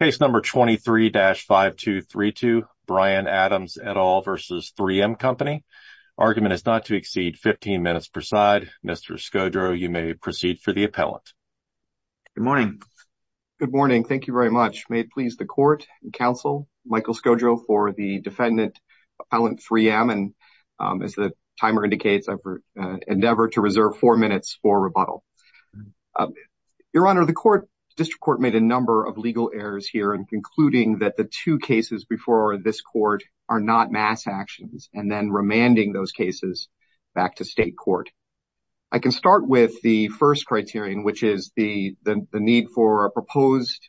Case number 23-5232, Brian Adams et al. v. 3M Company. Argument is not to exceed 15 minutes per side. Mr. Scodro, you may proceed for the appellant. Good morning. Good morning. Thank you very much. May it please the court and counsel, Michael Scodro for the defendant, Appellant 3M, and as the timer indicates, I endeavor to reserve four minutes for rebuttal. Your Honor, the court, district court, made a number of legal errors here in concluding that the two cases before this court are not mass actions, and then remanding those cases back to state court. I can start with the first criterion, which is the need for a proposed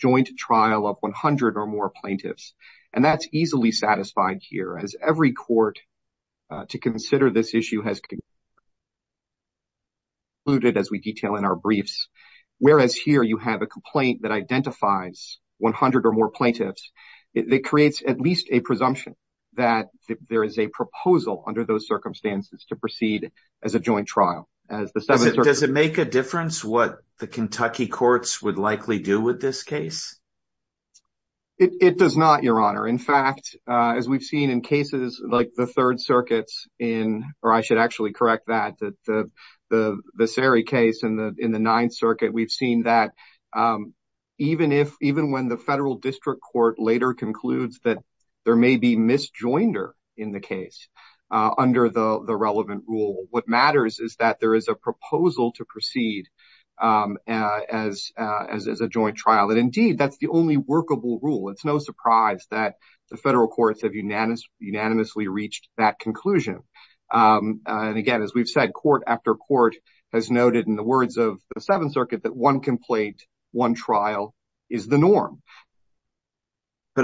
joint trial of 100 or more plaintiffs, and that's easily satisfied here, as every court to consider this issue has concluded, as we detail in our briefs, whereas here you have a complaint that identifies 100 or more plaintiffs. It creates at least a presumption that there is a proposal under those circumstances to proceed as a joint trial. Does it make a difference what the Kentucky courts would likely do with this case? It does not, Your Honor. In fact, as we've seen in cases like the Third Circuit's in, or I should actually correct that, the Sary case in the Ninth Circuit, we've seen that even when the federal district court later concludes that there may be misjoinder in the case under the relevant rule, what matters is that there is a proposal to proceed as a joint trial, and indeed, that's the only workable rule. It's no surprise that the federal courts have unanimously reached that conclusion, and again, as we've said, court after court has noted in the words of the Seventh Circuit that one complaint, one trial is the norm. Now,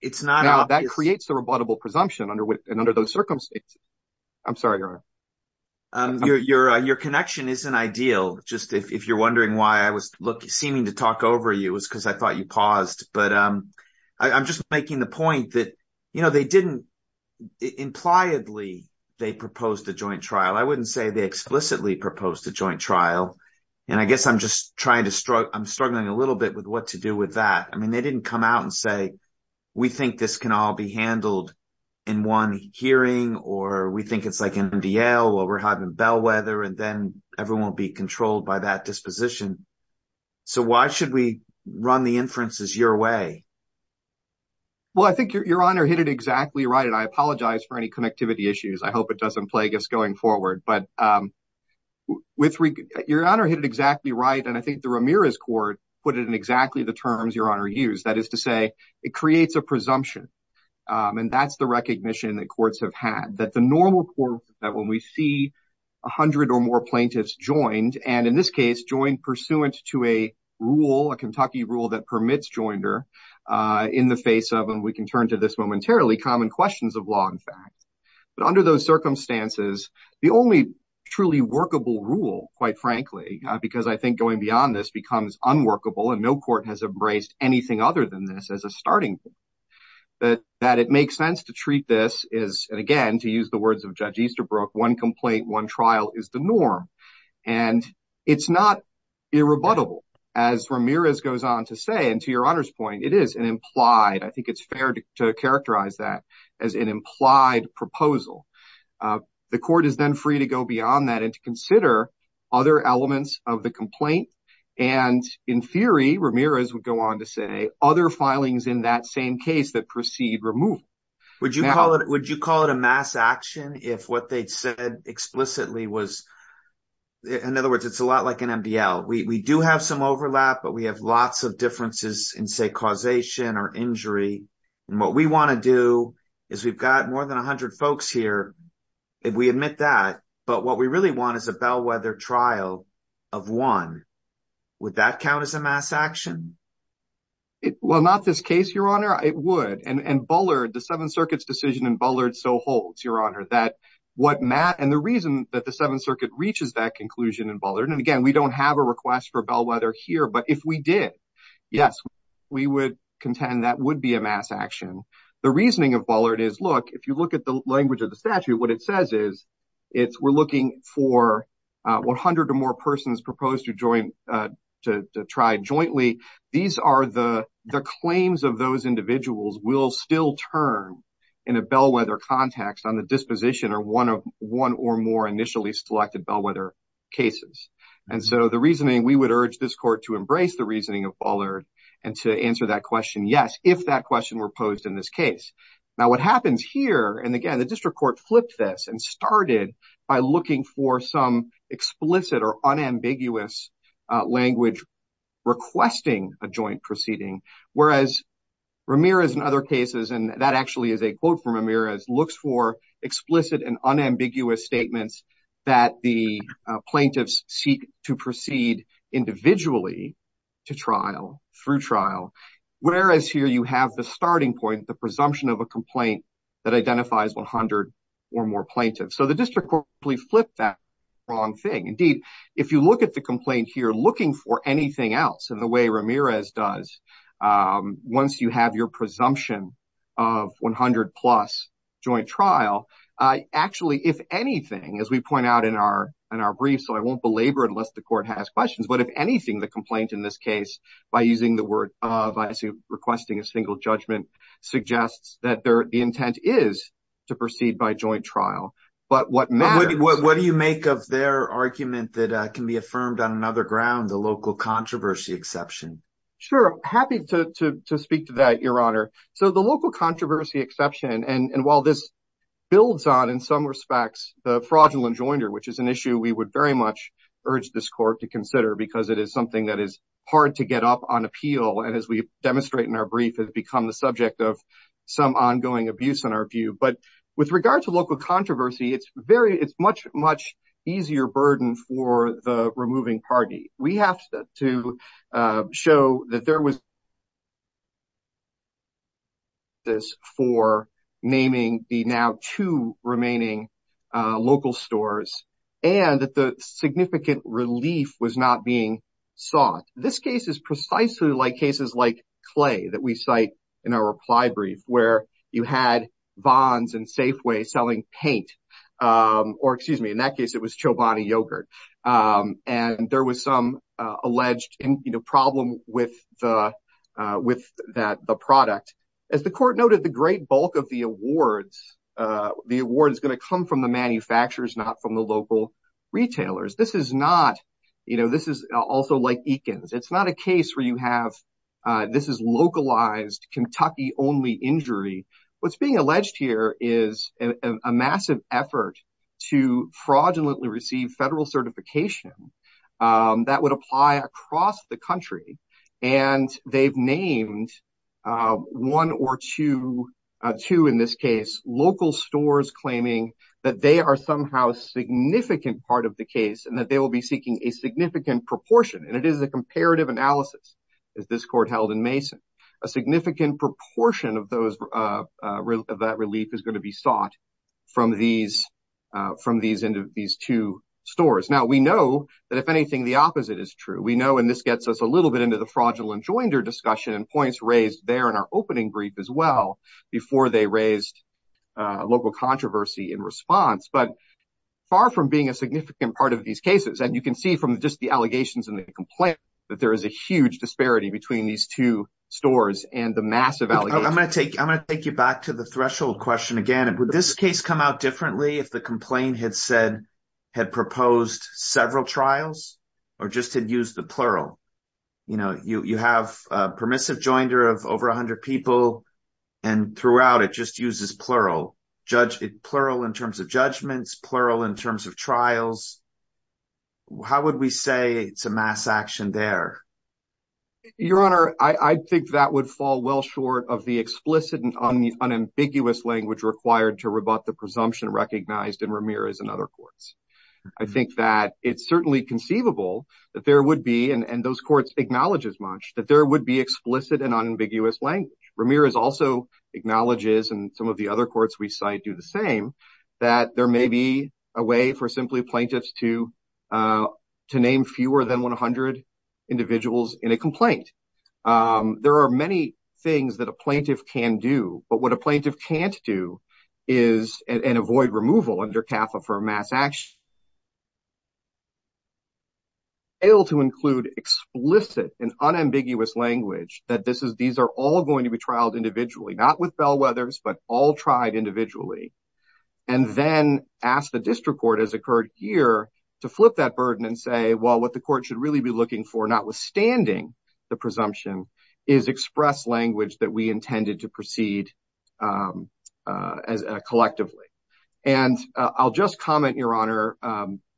that creates a rebuttable presumption under those circumstances. I'm sorry, Your Honor. Your connection isn't ideal, just if you're wondering why I was seeming to talk over you is because I thought you paused, but I'm just making the point that they didn't, impliedly, they proposed a joint trial. I wouldn't say they explicitly proposed a joint trial, and I guess I'm struggling a little bit with what to do with that. I mean, they didn't come out and say, we think this can all be handled in one hearing, or we think it's in DL, or we're having bellwether, and then everyone will be controlled by that disposition, so why should we run the inferences your way? Well, I think Your Honor hit it exactly right, and I apologize for any connectivity issues. I hope it doesn't plague us going forward, but Your Honor hit it exactly right, and I think the Ramirez Court put it in exactly the terms Your Honor used, that is to say, it creates a presumption, and that's the recognition that when we see a hundred or more plaintiffs joined, and in this case, joined pursuant to a rule, a Kentucky rule that permits joinder in the face of, and we can turn to this momentarily, common questions of law and fact, but under those circumstances, the only truly workable rule, quite frankly, because I think going beyond this becomes unworkable, and no court has embraced anything other than this as a starting point, that it makes sense to treat this as, and again, to use the words of Judge Easterbrook, one complaint, one trial is the norm, and it's not irrebuttable, as Ramirez goes on to say, and to Your Honor's point, it is an implied, I think it's fair to characterize that as an implied proposal. The court is then free to go beyond that and to consider other elements of the complaint, and in theory, Ramirez would go on to other filings in that same case that proceed removed. Would you call it a mass action if what they'd said explicitly was, in other words, it's a lot like an MDL. We do have some overlap, but we have lots of differences in, say, causation or injury, and what we want to do is we've got more than a hundred folks here, if we admit that, but what we really want is a bellwether trial of one. Would that count as a mass action? Well, not this case, Your Honor. It would, and Bullard, the Seventh Circuit's decision in Bullard so holds, Your Honor, that what Matt, and the reason that the Seventh Circuit reaches that conclusion in Bullard, and again, we don't have a request for bellwether here, but if we did, yes, we would contend that would be a mass action. The reasoning of Bullard is, look, if you look at the language of the statute, what it says is it's, we're looking for 100 or more persons proposed to try jointly. These are the claims of those individuals will still turn in a bellwether context on the disposition or one or more initially selected bellwether cases, and so the reasoning, we would urge this Court to embrace the reasoning of Bullard and to answer that question, yes, if that question were posed in this case. Now, what happens here, and again, the district court flipped this and started by looking for some explicit or unambiguous language requesting a joint proceeding, whereas Ramirez, in other cases, and that actually is a quote from Ramirez, looks for explicit and unambiguous statements that the plaintiffs seek to proceed individually to trial, through trial, whereas here you have the starting point, the presumption of a or more plaintiff. So the district court flipped that wrong thing. Indeed, if you look at the complaint here, looking for anything else in the way Ramirez does, once you have your presumption of 100 plus joint trial, actually, if anything, as we point out in our brief, so I won't belabor unless the Court has questions, but if anything, the complaint in this case, by using the word of requesting a single judgment, suggests that the intent is to proceed by joint trial, but what matters. What do you make of their argument that can be affirmed on another ground, the local controversy exception? Sure, happy to speak to that, Your Honor. So the local controversy exception, and while this builds on, in some respects, the fraudulent joinder, which is an issue we would very much urge this Court to consider because it is something that is hard to get up on appeal, and as we demonstrate in our brief, has become the subject of some ongoing abuse in our view, but with regard to local controversy, it's very, it's much, much easier burden for the removing party. We have to show that there was for naming the now two remaining local stores, and that the significant relief was not being sought. This case is precisely like cases like Clay that we cite in our reply brief, where you had Vons and Safeway selling paint, or excuse me, in that case, it was Chobani yogurt, and there was some alleged problem with the product. As the Court noted, the great bulk of the awards, the award is going to come from the manufacturers, not from the local retailers. This is not, you know, this is also like Eakins. It's not a case where you have, this is localized Kentucky-only injury. What's being alleged here is a massive effort to fraudulently receive federal certification that would apply across the country, and they've named one or two, two in this case, local stores claiming that they are somehow significant part of the case, and that they will be seeking a significant proportion, and it is a comparative analysis, as this Court held in Mason. A significant proportion of that relief is going to be sought from these two stores. Now, we know that if anything, the opposite is true. We know, and this gets us a little bit into the fraudulent joinder discussion and points raised there in our opening brief as well, before they raised local controversy in response, but far from being a and you can see from just the allegations and the complaint that there is a huge disparity between these two stores and the massive allegations. I'm going to take you back to the threshold question again. Would this case come out differently if the complaint had said, had proposed several trials, or just had used the plural? You know, you have a permissive joinder of over 100 people, and throughout it just uses plural. Plural in terms of judgments, plural in terms of trials. How would we say it's a mass action there? Your Honor, I think that would fall well short of the explicit and unambiguous language required to rebut the presumption recognized in Ramirez and other courts. I think that it's certainly conceivable that there would be, and those courts acknowledge as much, that there would be explicit and unambiguous language. Ramirez also acknowledges, and some of the other courts we cite do the same, that there may be a way for simply plaintiffs to name fewer than 100 individuals in a complaint. There are many things that a plaintiff can do, but what a plaintiff can't do is, and avoid removal under CAFA for a mass action, able to include explicit and unambiguous language that these are all going to be individually. And then ask the district court, as occurred here, to flip that burden and say, well, what the court should really be looking for, notwithstanding the presumption, is express language that we intended to proceed collectively. And I'll just comment, Your Honor,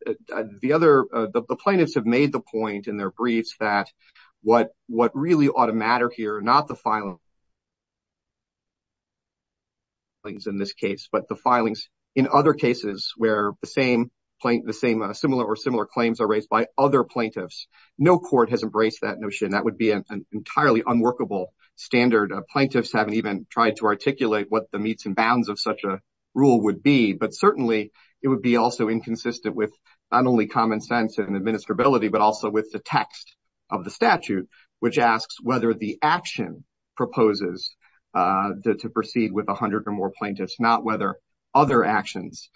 the plaintiffs have made the point in their briefs that what really ought to matter here, not the filings in this case, but the filings in other cases where the same similar or similar claims are raised by other plaintiffs. No court has embraced that notion. That would be an entirely unworkable standard. Plaintiffs haven't even tried to articulate what the meets and bounds of such a rule would be, but certainly it would be also inconsistent with not only common sense and administrability, but also with the text of the statute, which asks whether the action proposes to proceed with 100 or more plaintiffs, not whether other actions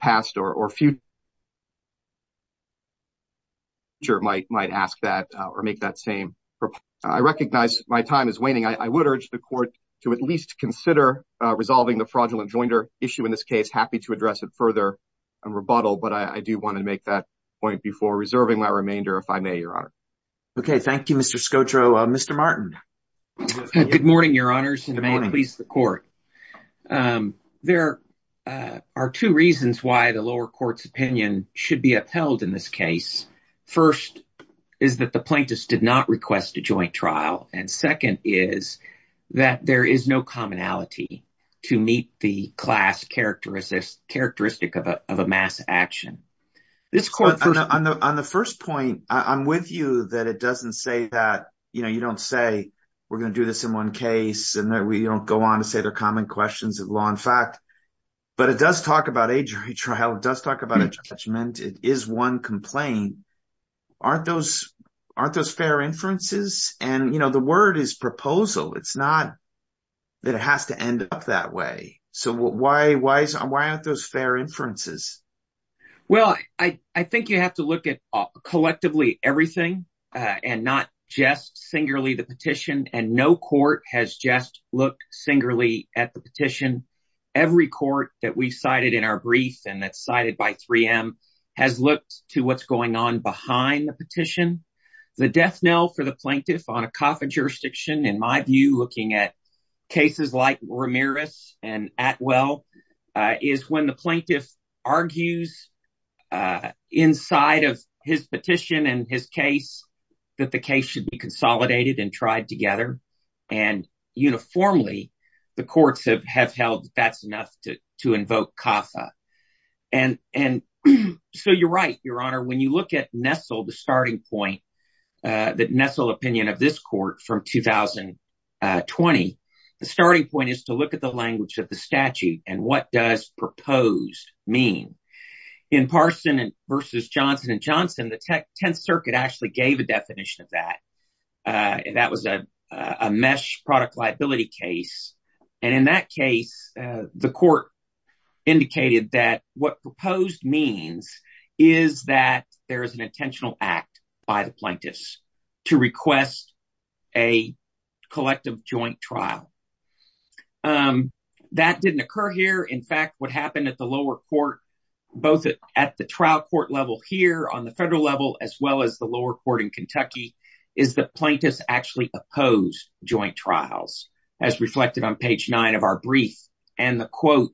passed or future might ask that or make that same. I recognize my time is waning. I would urge the court to at least consider resolving the fraudulent joinder issue in this case. Happy to address it further and rebuttal, but I do want to make that point before reserving my remainder, if I may, Your Honor. Okay. Thank you, Mr. Scotro. Mr. Martin. Good morning, Your Honors, and may it please the court. There are two reasons why the lower court's opinion should be upheld in this case. First is that the plaintiffs did not request a joint trial. And second is that there is no commonality to meet the class characteristic of a mass action. On the first point, I'm with you that it doesn't say that, you know, you don't say we're going to do this in one case and that we don't go on to say they're common questions of law and fact. But it does talk about a joint trial. It does talk about a judgment. It is one complaint. Aren't those fair inferences? And, you know, the word is fair. Well, I think you have to look at collectively everything and not just singularly the petition. And no court has just looked singularly at the petition. Every court that we cited in our brief and that's cited by 3M has looked to what's going on behind the petition. The death knell for the plaintiff on a CAFA jurisdiction, in my view, looking at cases like argues inside of his petition and his case that the case should be consolidated and tried together. And uniformly, the courts have held that's enough to invoke CAFA. And so you're right, Your Honor, when you look at Nessel, the starting point that Nessel opinion of this court from 2020, the starting point is to look at the language of the statute and what does proposed mean. In Parson v. Johnson & Johnson, the Tenth Circuit actually gave a definition of that. That was a mesh product liability case. And in that case, the court indicated that what proposed means is that there is an intentional act by the plaintiffs to request a collective joint trial. That didn't occur here. In fact, what happened at the lower court, both at the trial court level here on the federal level, as well as the lower court in Kentucky, is the plaintiffs actually opposed joint trials as reflected on page nine of our brief. And the quote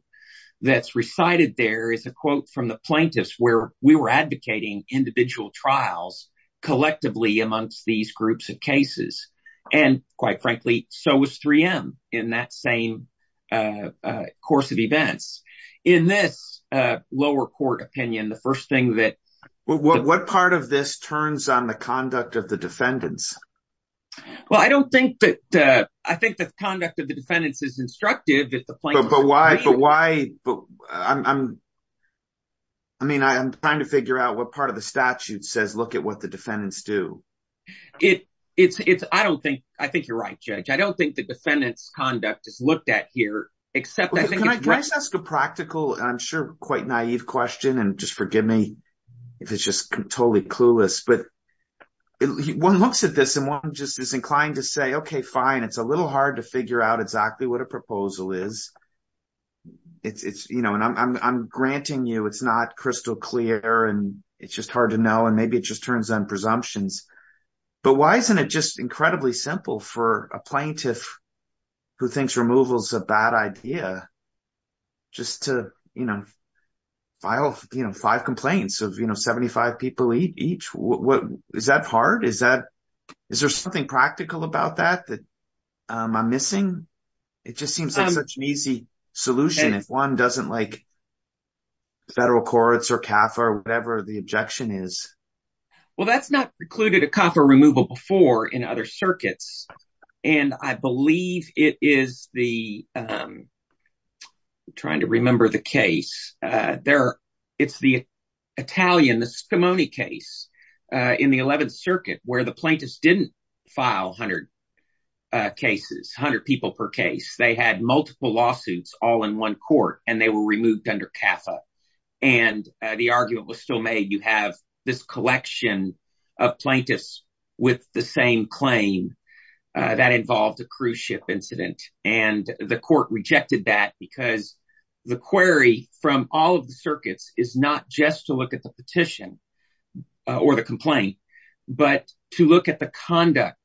that's recited there is a quote from the plaintiffs where we were advocating individual trials collectively amongst these groups of cases. And quite frankly, so was 3M in that same course of events. In this lower court opinion, the first thing that. What part of this turns on the conduct of the defendants? Well, I don't think that I think that the conduct of the defendants is instructive. But why? But why? I mean, I'm trying to figure out what part of the statute says, look at what the defendants do. I don't think I think you're right, Judge. I don't think the defendant's conduct is looked at here, except I think. Can I just ask a practical and I'm sure quite naive question and just forgive me if it's just totally clueless, but one looks at this and one just is inclined to say, OK, fine, it's a little hard to figure out exactly what a proposal is. It's, you know, and I'm granting you, it's not crystal clear and it's just hard to know, and maybe it just turns on presumptions. But why isn't it just incredibly simple for a plaintiff who thinks removal is a bad idea? Just to, you know, file five complaints of, you know, am I missing? It just seems like such an easy solution if one doesn't like federal courts or CAFA or whatever the objection is. Well, that's not precluded a CAFA removal before in other circuits. And I believe it is the, trying to remember the case there. It's the Italian, the Scimone case in the 11th Circuit where the plaintiffs didn't file 100 cases, 100 people per case. They had multiple lawsuits all in one court and they were removed under CAFA. And the argument was still made. You have this collection of plaintiffs with the same claim that involved a cruise ship incident. And the court rejected that because the query from all of the circuits is not just to look at the petition or the complaint, but to look at the conduct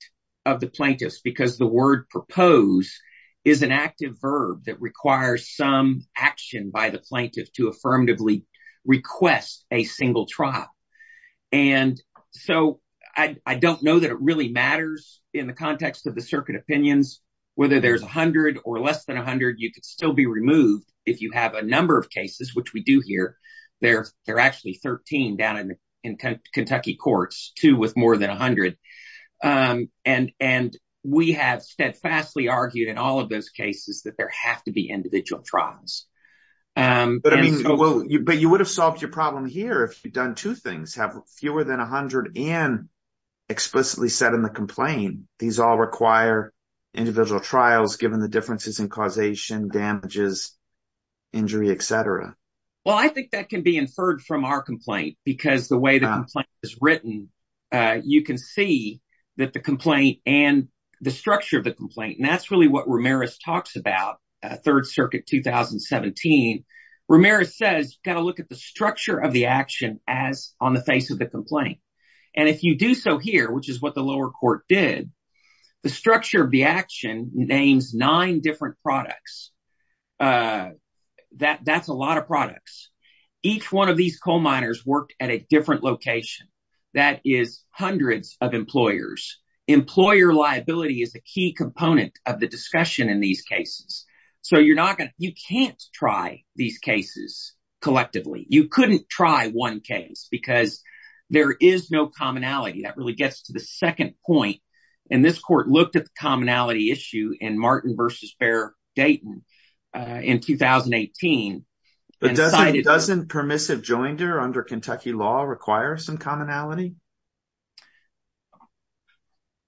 of the plaintiffs, because the word propose is an active verb that requires some action by the plaintiff to affirmatively request a single trial. And so I don't know that it really matters in the context of the circuit opinions, whether there's 100 or less than 100, you could still be removed if you have a number of cases, which we do here. They're actually 13 down in Kentucky courts, two with more than 100. And we have steadfastly argued in all of those cases that there have to be individual trials. But I mean, well, but you would have solved your problem here if you'd done two things, have fewer than 100 and explicitly said in the complaint, these all require individual trials, given the differences in causation, damages, injury, et cetera. Well, I think that can be inferred from our complaint because the way the complaint is written, you can see that the complaint and the structure of the complaint. And that's really what Ramirez talks about. Third Circuit 2017, Ramirez says, got to look at the structure of the action as on the face of the complaint. And if you do so here, which is what the lower court did, the structure of the action names nine different products. That's a lot of products. Each one of these coal miners worked at a different location. That is hundreds of employers. Employer liability is a key component of the discussion in these cases. So you're not going to you can't try these cases collectively. You couldn't try one case because there is no commonality. That really gets to the second point. And this court looked at the commonality issue in Martin versus Bear Dayton in 2018. But doesn't permissive joinder under Kentucky law require some commonality?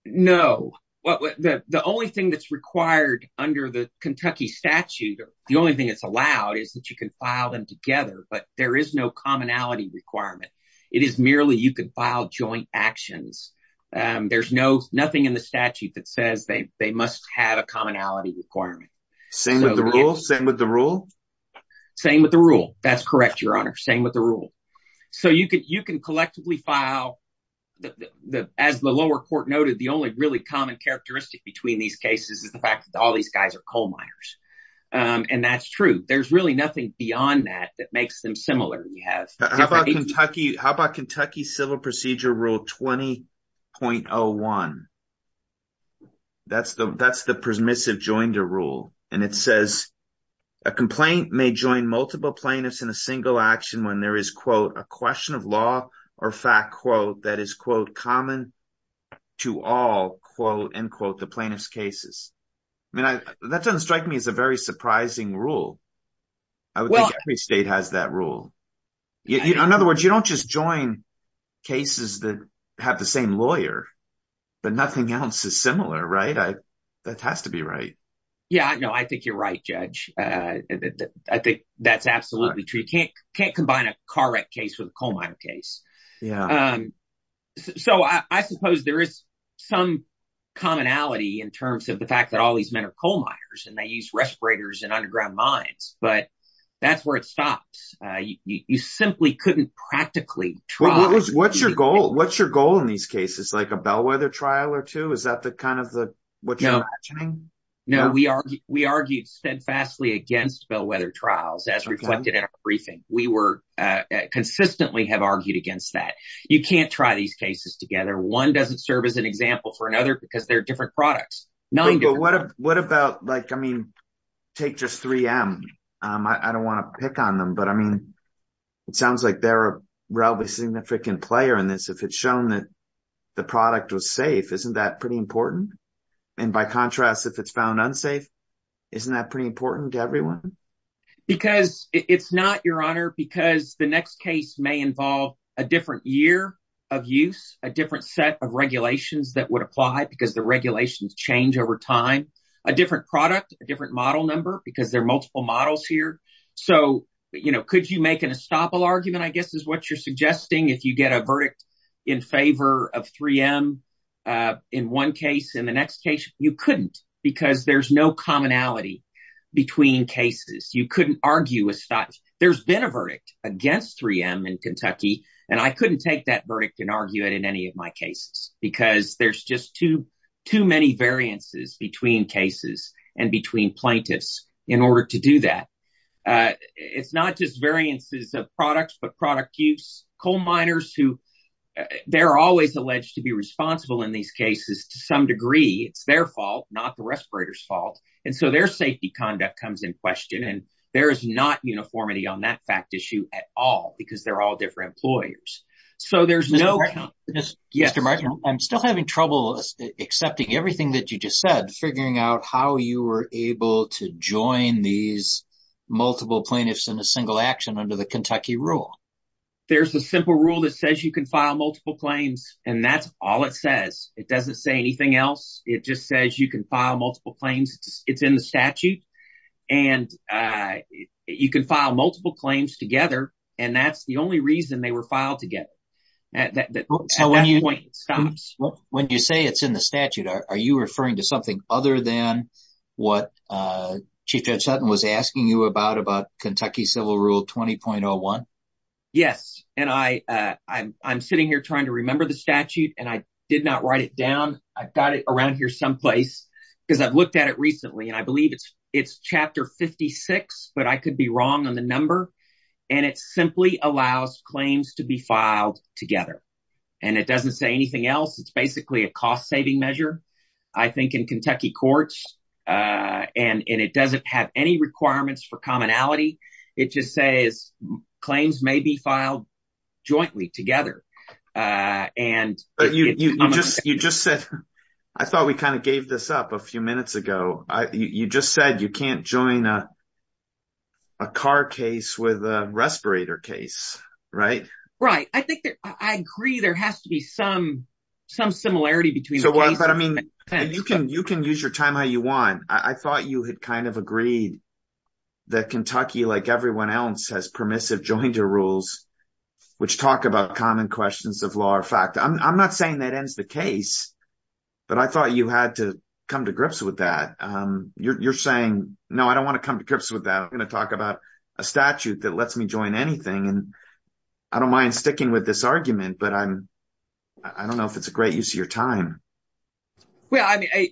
No. The only thing that's required under the Kentucky statute, the only thing that's allowed is that you can file them together. But there is no commonality requirement. It is merely you could file joint actions. There's no nothing in the statute that says they they must have a commonality requirement. Same with the rule. Same with the rule. Same with the rule. That's correct, Your Honor. Same with the rule. So you could you can collectively file the as the lower court noted, the only really common characteristic between these cases is the fact that all these guys are coal miners. And that's true. There's really nothing beyond that that makes them similar. We have. How about Kentucky? How about Kentucky Civil Procedure Rule 20.01? That's the that's the permissive joinder rule. And it says a complaint may join multiple plaintiffs in a single action when there is, quote, a question of law or fact, quote, that is, quote, common to all, quote, unquote, the plaintiff's cases. I mean, that doesn't strike me as a very surprising rule. Well, every state has that rule. In other words, you don't just join cases that have the same lawyer, but nothing else is similar, right? That has to be right. Yeah, I know. I think you're right, Judge. I think that's absolutely true. You can't can't combine a car wreck case with a coal miner case. Yeah. So I suppose there is some commonality in terms of the fact that all these men are coal miners and they use respirators and underground mines. But that's where it stops. You simply couldn't practically try. What's your goal? What's your goal in these cases? Like a bellwether trial or two? Is that the kind of what you're imagining? No, we are. We argued steadfastly against bellwether trials as reflected in a briefing. We were consistently have argued against that. You can't try these together. One doesn't serve as an example for another because they're different products. What about like, I mean, take just 3M. I don't want to pick on them, but I mean, it sounds like they're a relatively significant player in this. If it's shown that the product was safe, isn't that pretty important? And by contrast, if it's found unsafe, isn't that pretty important to everyone? Because it's not, Your Honor, because the next case may involve a different year of use, a different set of regulations that would apply because the regulations change over time, a different product, a different model number, because there are multiple models here. So, you know, could you make an estoppel argument, I guess, is what you're suggesting. If you get a verdict in favor of 3M in one case, in the next case, you couldn't because there's no commonality between cases. You couldn't argue. There's been a verdict against 3M in Kentucky, and I couldn't take that verdict and argue it in any of my cases because there's just too many variances between cases and between plaintiffs in order to do that. It's not just variances of products, but product use. Coal miners, they're always alleged to be responsible in these cases to some degree. It's their fault, not the respirator's fault. And so their safety conduct comes in question. And there is not uniformity on that fact issue at all because they're all different employers. So there's no... Mr. Markham, I'm still having trouble accepting everything that you just said, figuring out how you were able to join these multiple plaintiffs in a single action under the Kentucky rule. There's a simple rule that says you can file multiple claims, and that's all it says. It doesn't say anything else. It just says you can file multiple claims. It's in the statute, and you can file multiple claims together, and that's the only reason they were filed together. So when you say it's in the statute, are you referring to something other than what Chief Judge Sutton was asking you about, about Kentucky Civil Rule 20.01? Yes, and I'm sitting here trying to remember the statute, and I did not write it down. I've got it around here someplace because I've looked at it recently, and I believe it's chapter 56, but I could be wrong on the number. And it simply allows claims to be filed together, and it doesn't say anything else. It's basically a cost-saving measure, I think, in Kentucky courts, and it doesn't have any requirements for commonality. It just says claims may be filed jointly, together. But you just said... I thought we kind this up a few minutes ago. You just said you can't join a car case with a respirator case, right? Right. I agree there has to be some similarity between the cases. But I mean, you can use your time how you want. I thought you had kind of agreed that Kentucky, like everyone else, has permissive jointer rules, which talk about common questions of law or fact. I'm not saying that ends the case, but I thought you had to come to grips with that. You're saying, no, I don't want to come to grips with that. I'm going to talk about a statute that lets me join anything, and I don't mind sticking with this argument, but I don't know if it's a great use of your time. Well, I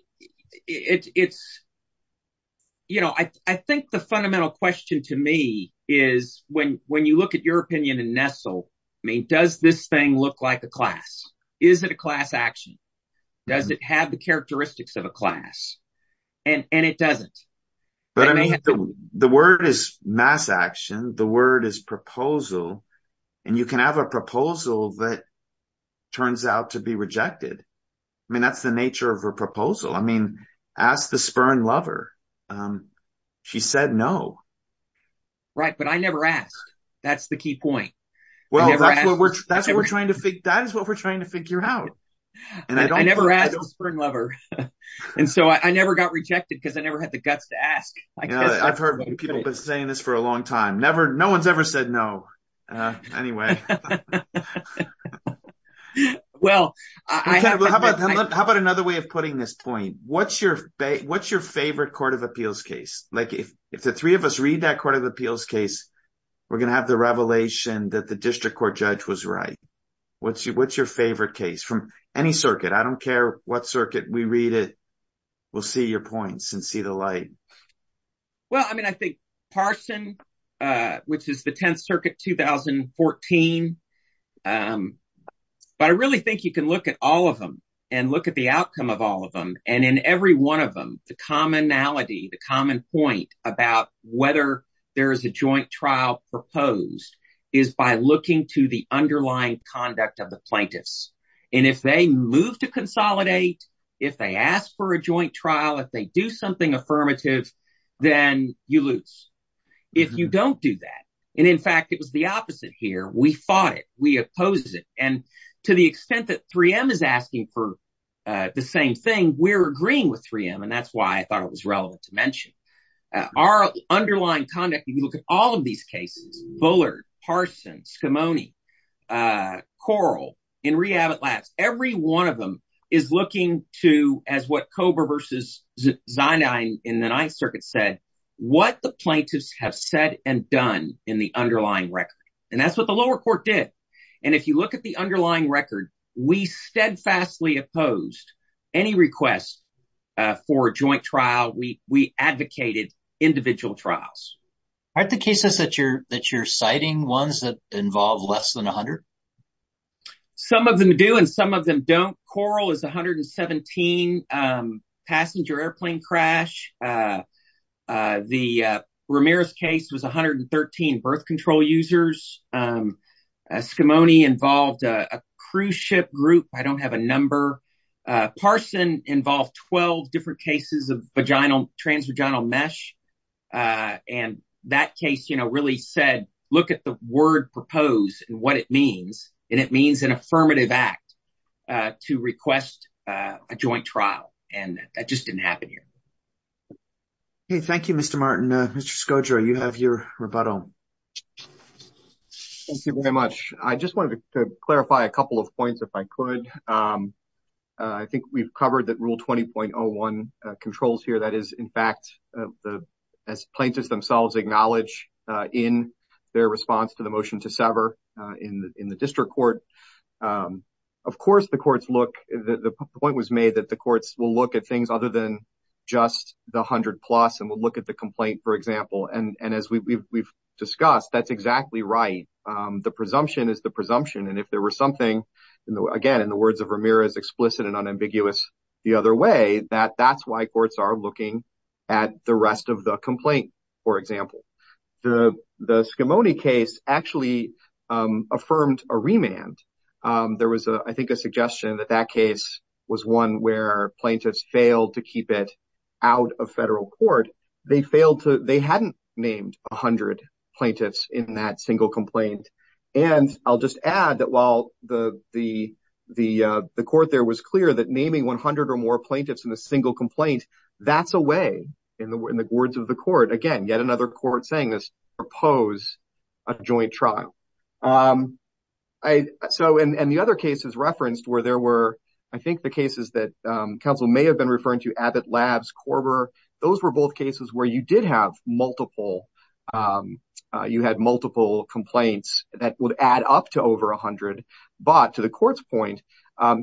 think the fundamental question to me is, when you look at your class action, does it have the characteristics of a class? And it doesn't. But the word is mass action. The word is proposal. And you can have a proposal that turns out to be rejected. I mean, that's the nature of a proposal. I mean, ask the Spurn lover. She said no. Right. But I never asked. That's the key point. Well, that's what we're trying to figure out. I never asked the Spurn lover. And so I never got rejected because I never had the guts to ask. I've heard people saying this for a long time. No one's ever said no. Anyway. Well, how about another way of putting this point? What's your favorite Court of Appeals case? If the three of us read that Court of Appeals case, we're going to have the revelation that the district court judge was right. What's your favorite case from any circuit? I don't care what circuit we read it. We'll see your points and see the light. Well, I mean, I think Parson, which is the 10th Circuit 2014. But I really think you can look at all of them and look at the outcome of all of them. And in every one of them, the commonality, the common point about whether there is a joint trial proposed is by looking to the underlying conduct of the plaintiffs. And if they move to consolidate, if they ask for a joint trial, if they do something affirmative, then you lose. If you don't do that. And in fact, it was the opposite here. We fought it. We opposed it. And to the extent that 3M is asking for the same thing, we're agreeing with 3M. And that's why I thought it was relevant to mention our underlying conduct. If you look at all of these cases, Bullard, Parson, Scimone, Coral, and Rehab at Last, every one of them is looking to as what Cobra versus Zinine in the 9th Circuit said, what the plaintiffs have said and done in the underlying record. And that's what the lower court did. And if you look at the underlying record, we steadfastly opposed any request for a joint trial. We advocated individual trials. Aren't the cases that you're citing ones that involve less than 100? Some of them do and some of them don't. Coral is 117 passenger airplane crash. The Ramirez case was 113 birth control users. Scimone involved a cruise ship group. I don't have a number. Parson involved 12 different cases of vaginal transvaginal mesh. And that case, you know, really said, look at the word proposed and what it means. And it means an affirmative act to request a joint trial. And that just didn't happen here. Okay. Thank you, Mr. Martin. Mr. Scodro, you have your rebuttal. Thank you very much. I just wanted to clarify a couple of points if I could. I think we've covered that rule 20.01 controls here. That is, in fact, as plaintiffs themselves acknowledge in their response to the motion to sever in the district court. Of course, the courts look, the point was made that the courts will look at things other than just the 100 plus and will look at the complaint, for example. And as we've discussed, that's exactly right. The presumption is the presumption. And if there were something, again, in the words of Ramirez, explicit and unambiguous the other way, that that's why courts are looking at the rest of the complaint, for example. The Scimone case actually affirmed a remand. There was, I think, a suggestion that that case was one where plaintiffs failed to keep it out of federal court. They failed to, they hadn't named 100 plaintiffs in that single complaint. And I'll just add that while the court there was clear that naming 100 or more plaintiffs in a single complaint, that's a way, in the words of the court, again, yet another court saying this, oppose a joint trial. So, and the other cases referenced where there were, I think, the cases that counsel may have been referring to Abbott Labs, Korber, those were both cases where you did have multiple, you had multiple complaints that would add up to over 100. But to the court's point,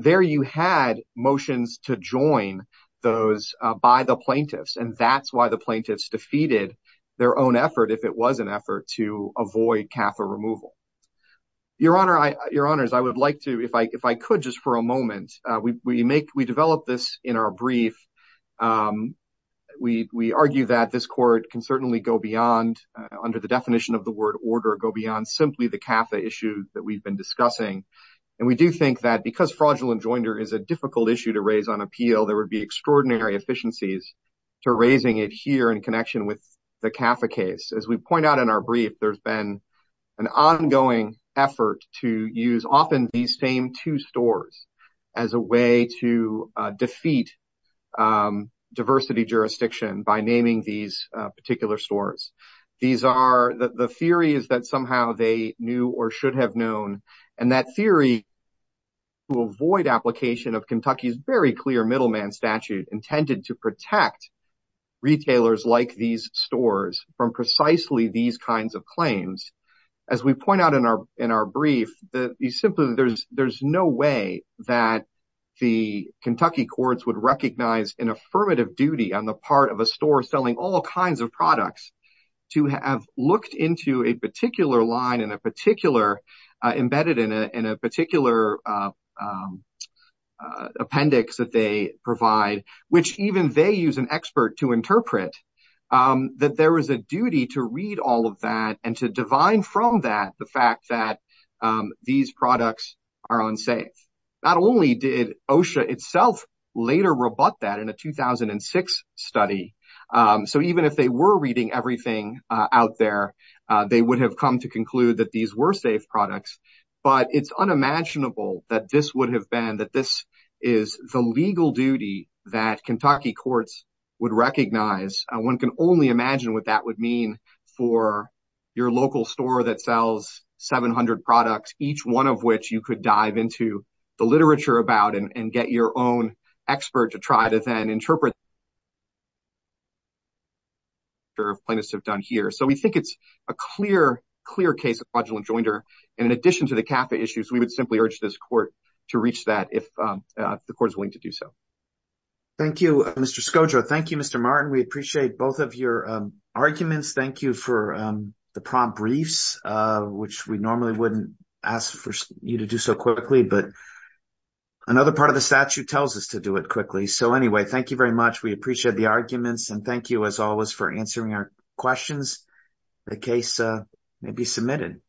there you had motions to join those by the plaintiffs. And that's why the plaintiffs defeated their own effort, if it was an effort, to avoid CAFA removal. Your Honor, I, Your Honors, I would like to, if I could just for a moment, we make, we develop this in our brief. We argue that this court can certainly go beyond, under the definition of the word order, go beyond simply the CAFA issue that we've been discussing. And we do think that because fraudulent jointer is a difficult issue to raise on appeal, there would be extraordinary efficiencies to raising it here in connection with CAFA case. As we point out in our brief, there's been an ongoing effort to use often these same two stores as a way to defeat diversity jurisdiction by naming these particular stores. These are, the theory is that somehow they knew or should have known. And that theory will avoid application of Kentucky's very clear middleman statute intended to protect retailers like these stores from precisely these kinds of claims. As we point out in our brief, that you simply, there's no way that the Kentucky courts would recognize an affirmative duty on the part of a store selling all kinds of products to have looked into a particular line and a particular, embedded in a particular appendix that they provide, which even they use an expert to interpret, that there is a duty to read all of that and to divine from that the fact that these products are unsafe. Not only did OSHA itself later rebut that in a 2006 study. So even if they were reading everything out there, they would have come to conclude that these were safe products. But it's unimaginable that this would have been, that this is the legal duty that Kentucky courts would recognize. One can only imagine what that would mean for your local store that sells 700 products, each one of which you could dive into the literature about and get your own expert to try to then interpret. Plaintiffs have done here. So we think it's a clear, clear case of in addition to the CAFA issues, we would simply urge this court to reach that if the court is willing to do so. Thank you, Mr. Skodra. Thank you, Mr. Martin. We appreciate both of your arguments. Thank you for the prompt briefs, which we normally wouldn't ask for you to do so quickly, but another part of the statute tells us to do it quickly. So anyway, thank you very much. We appreciate the arguments and thank you as always for answering our questions. The case may be adjourned.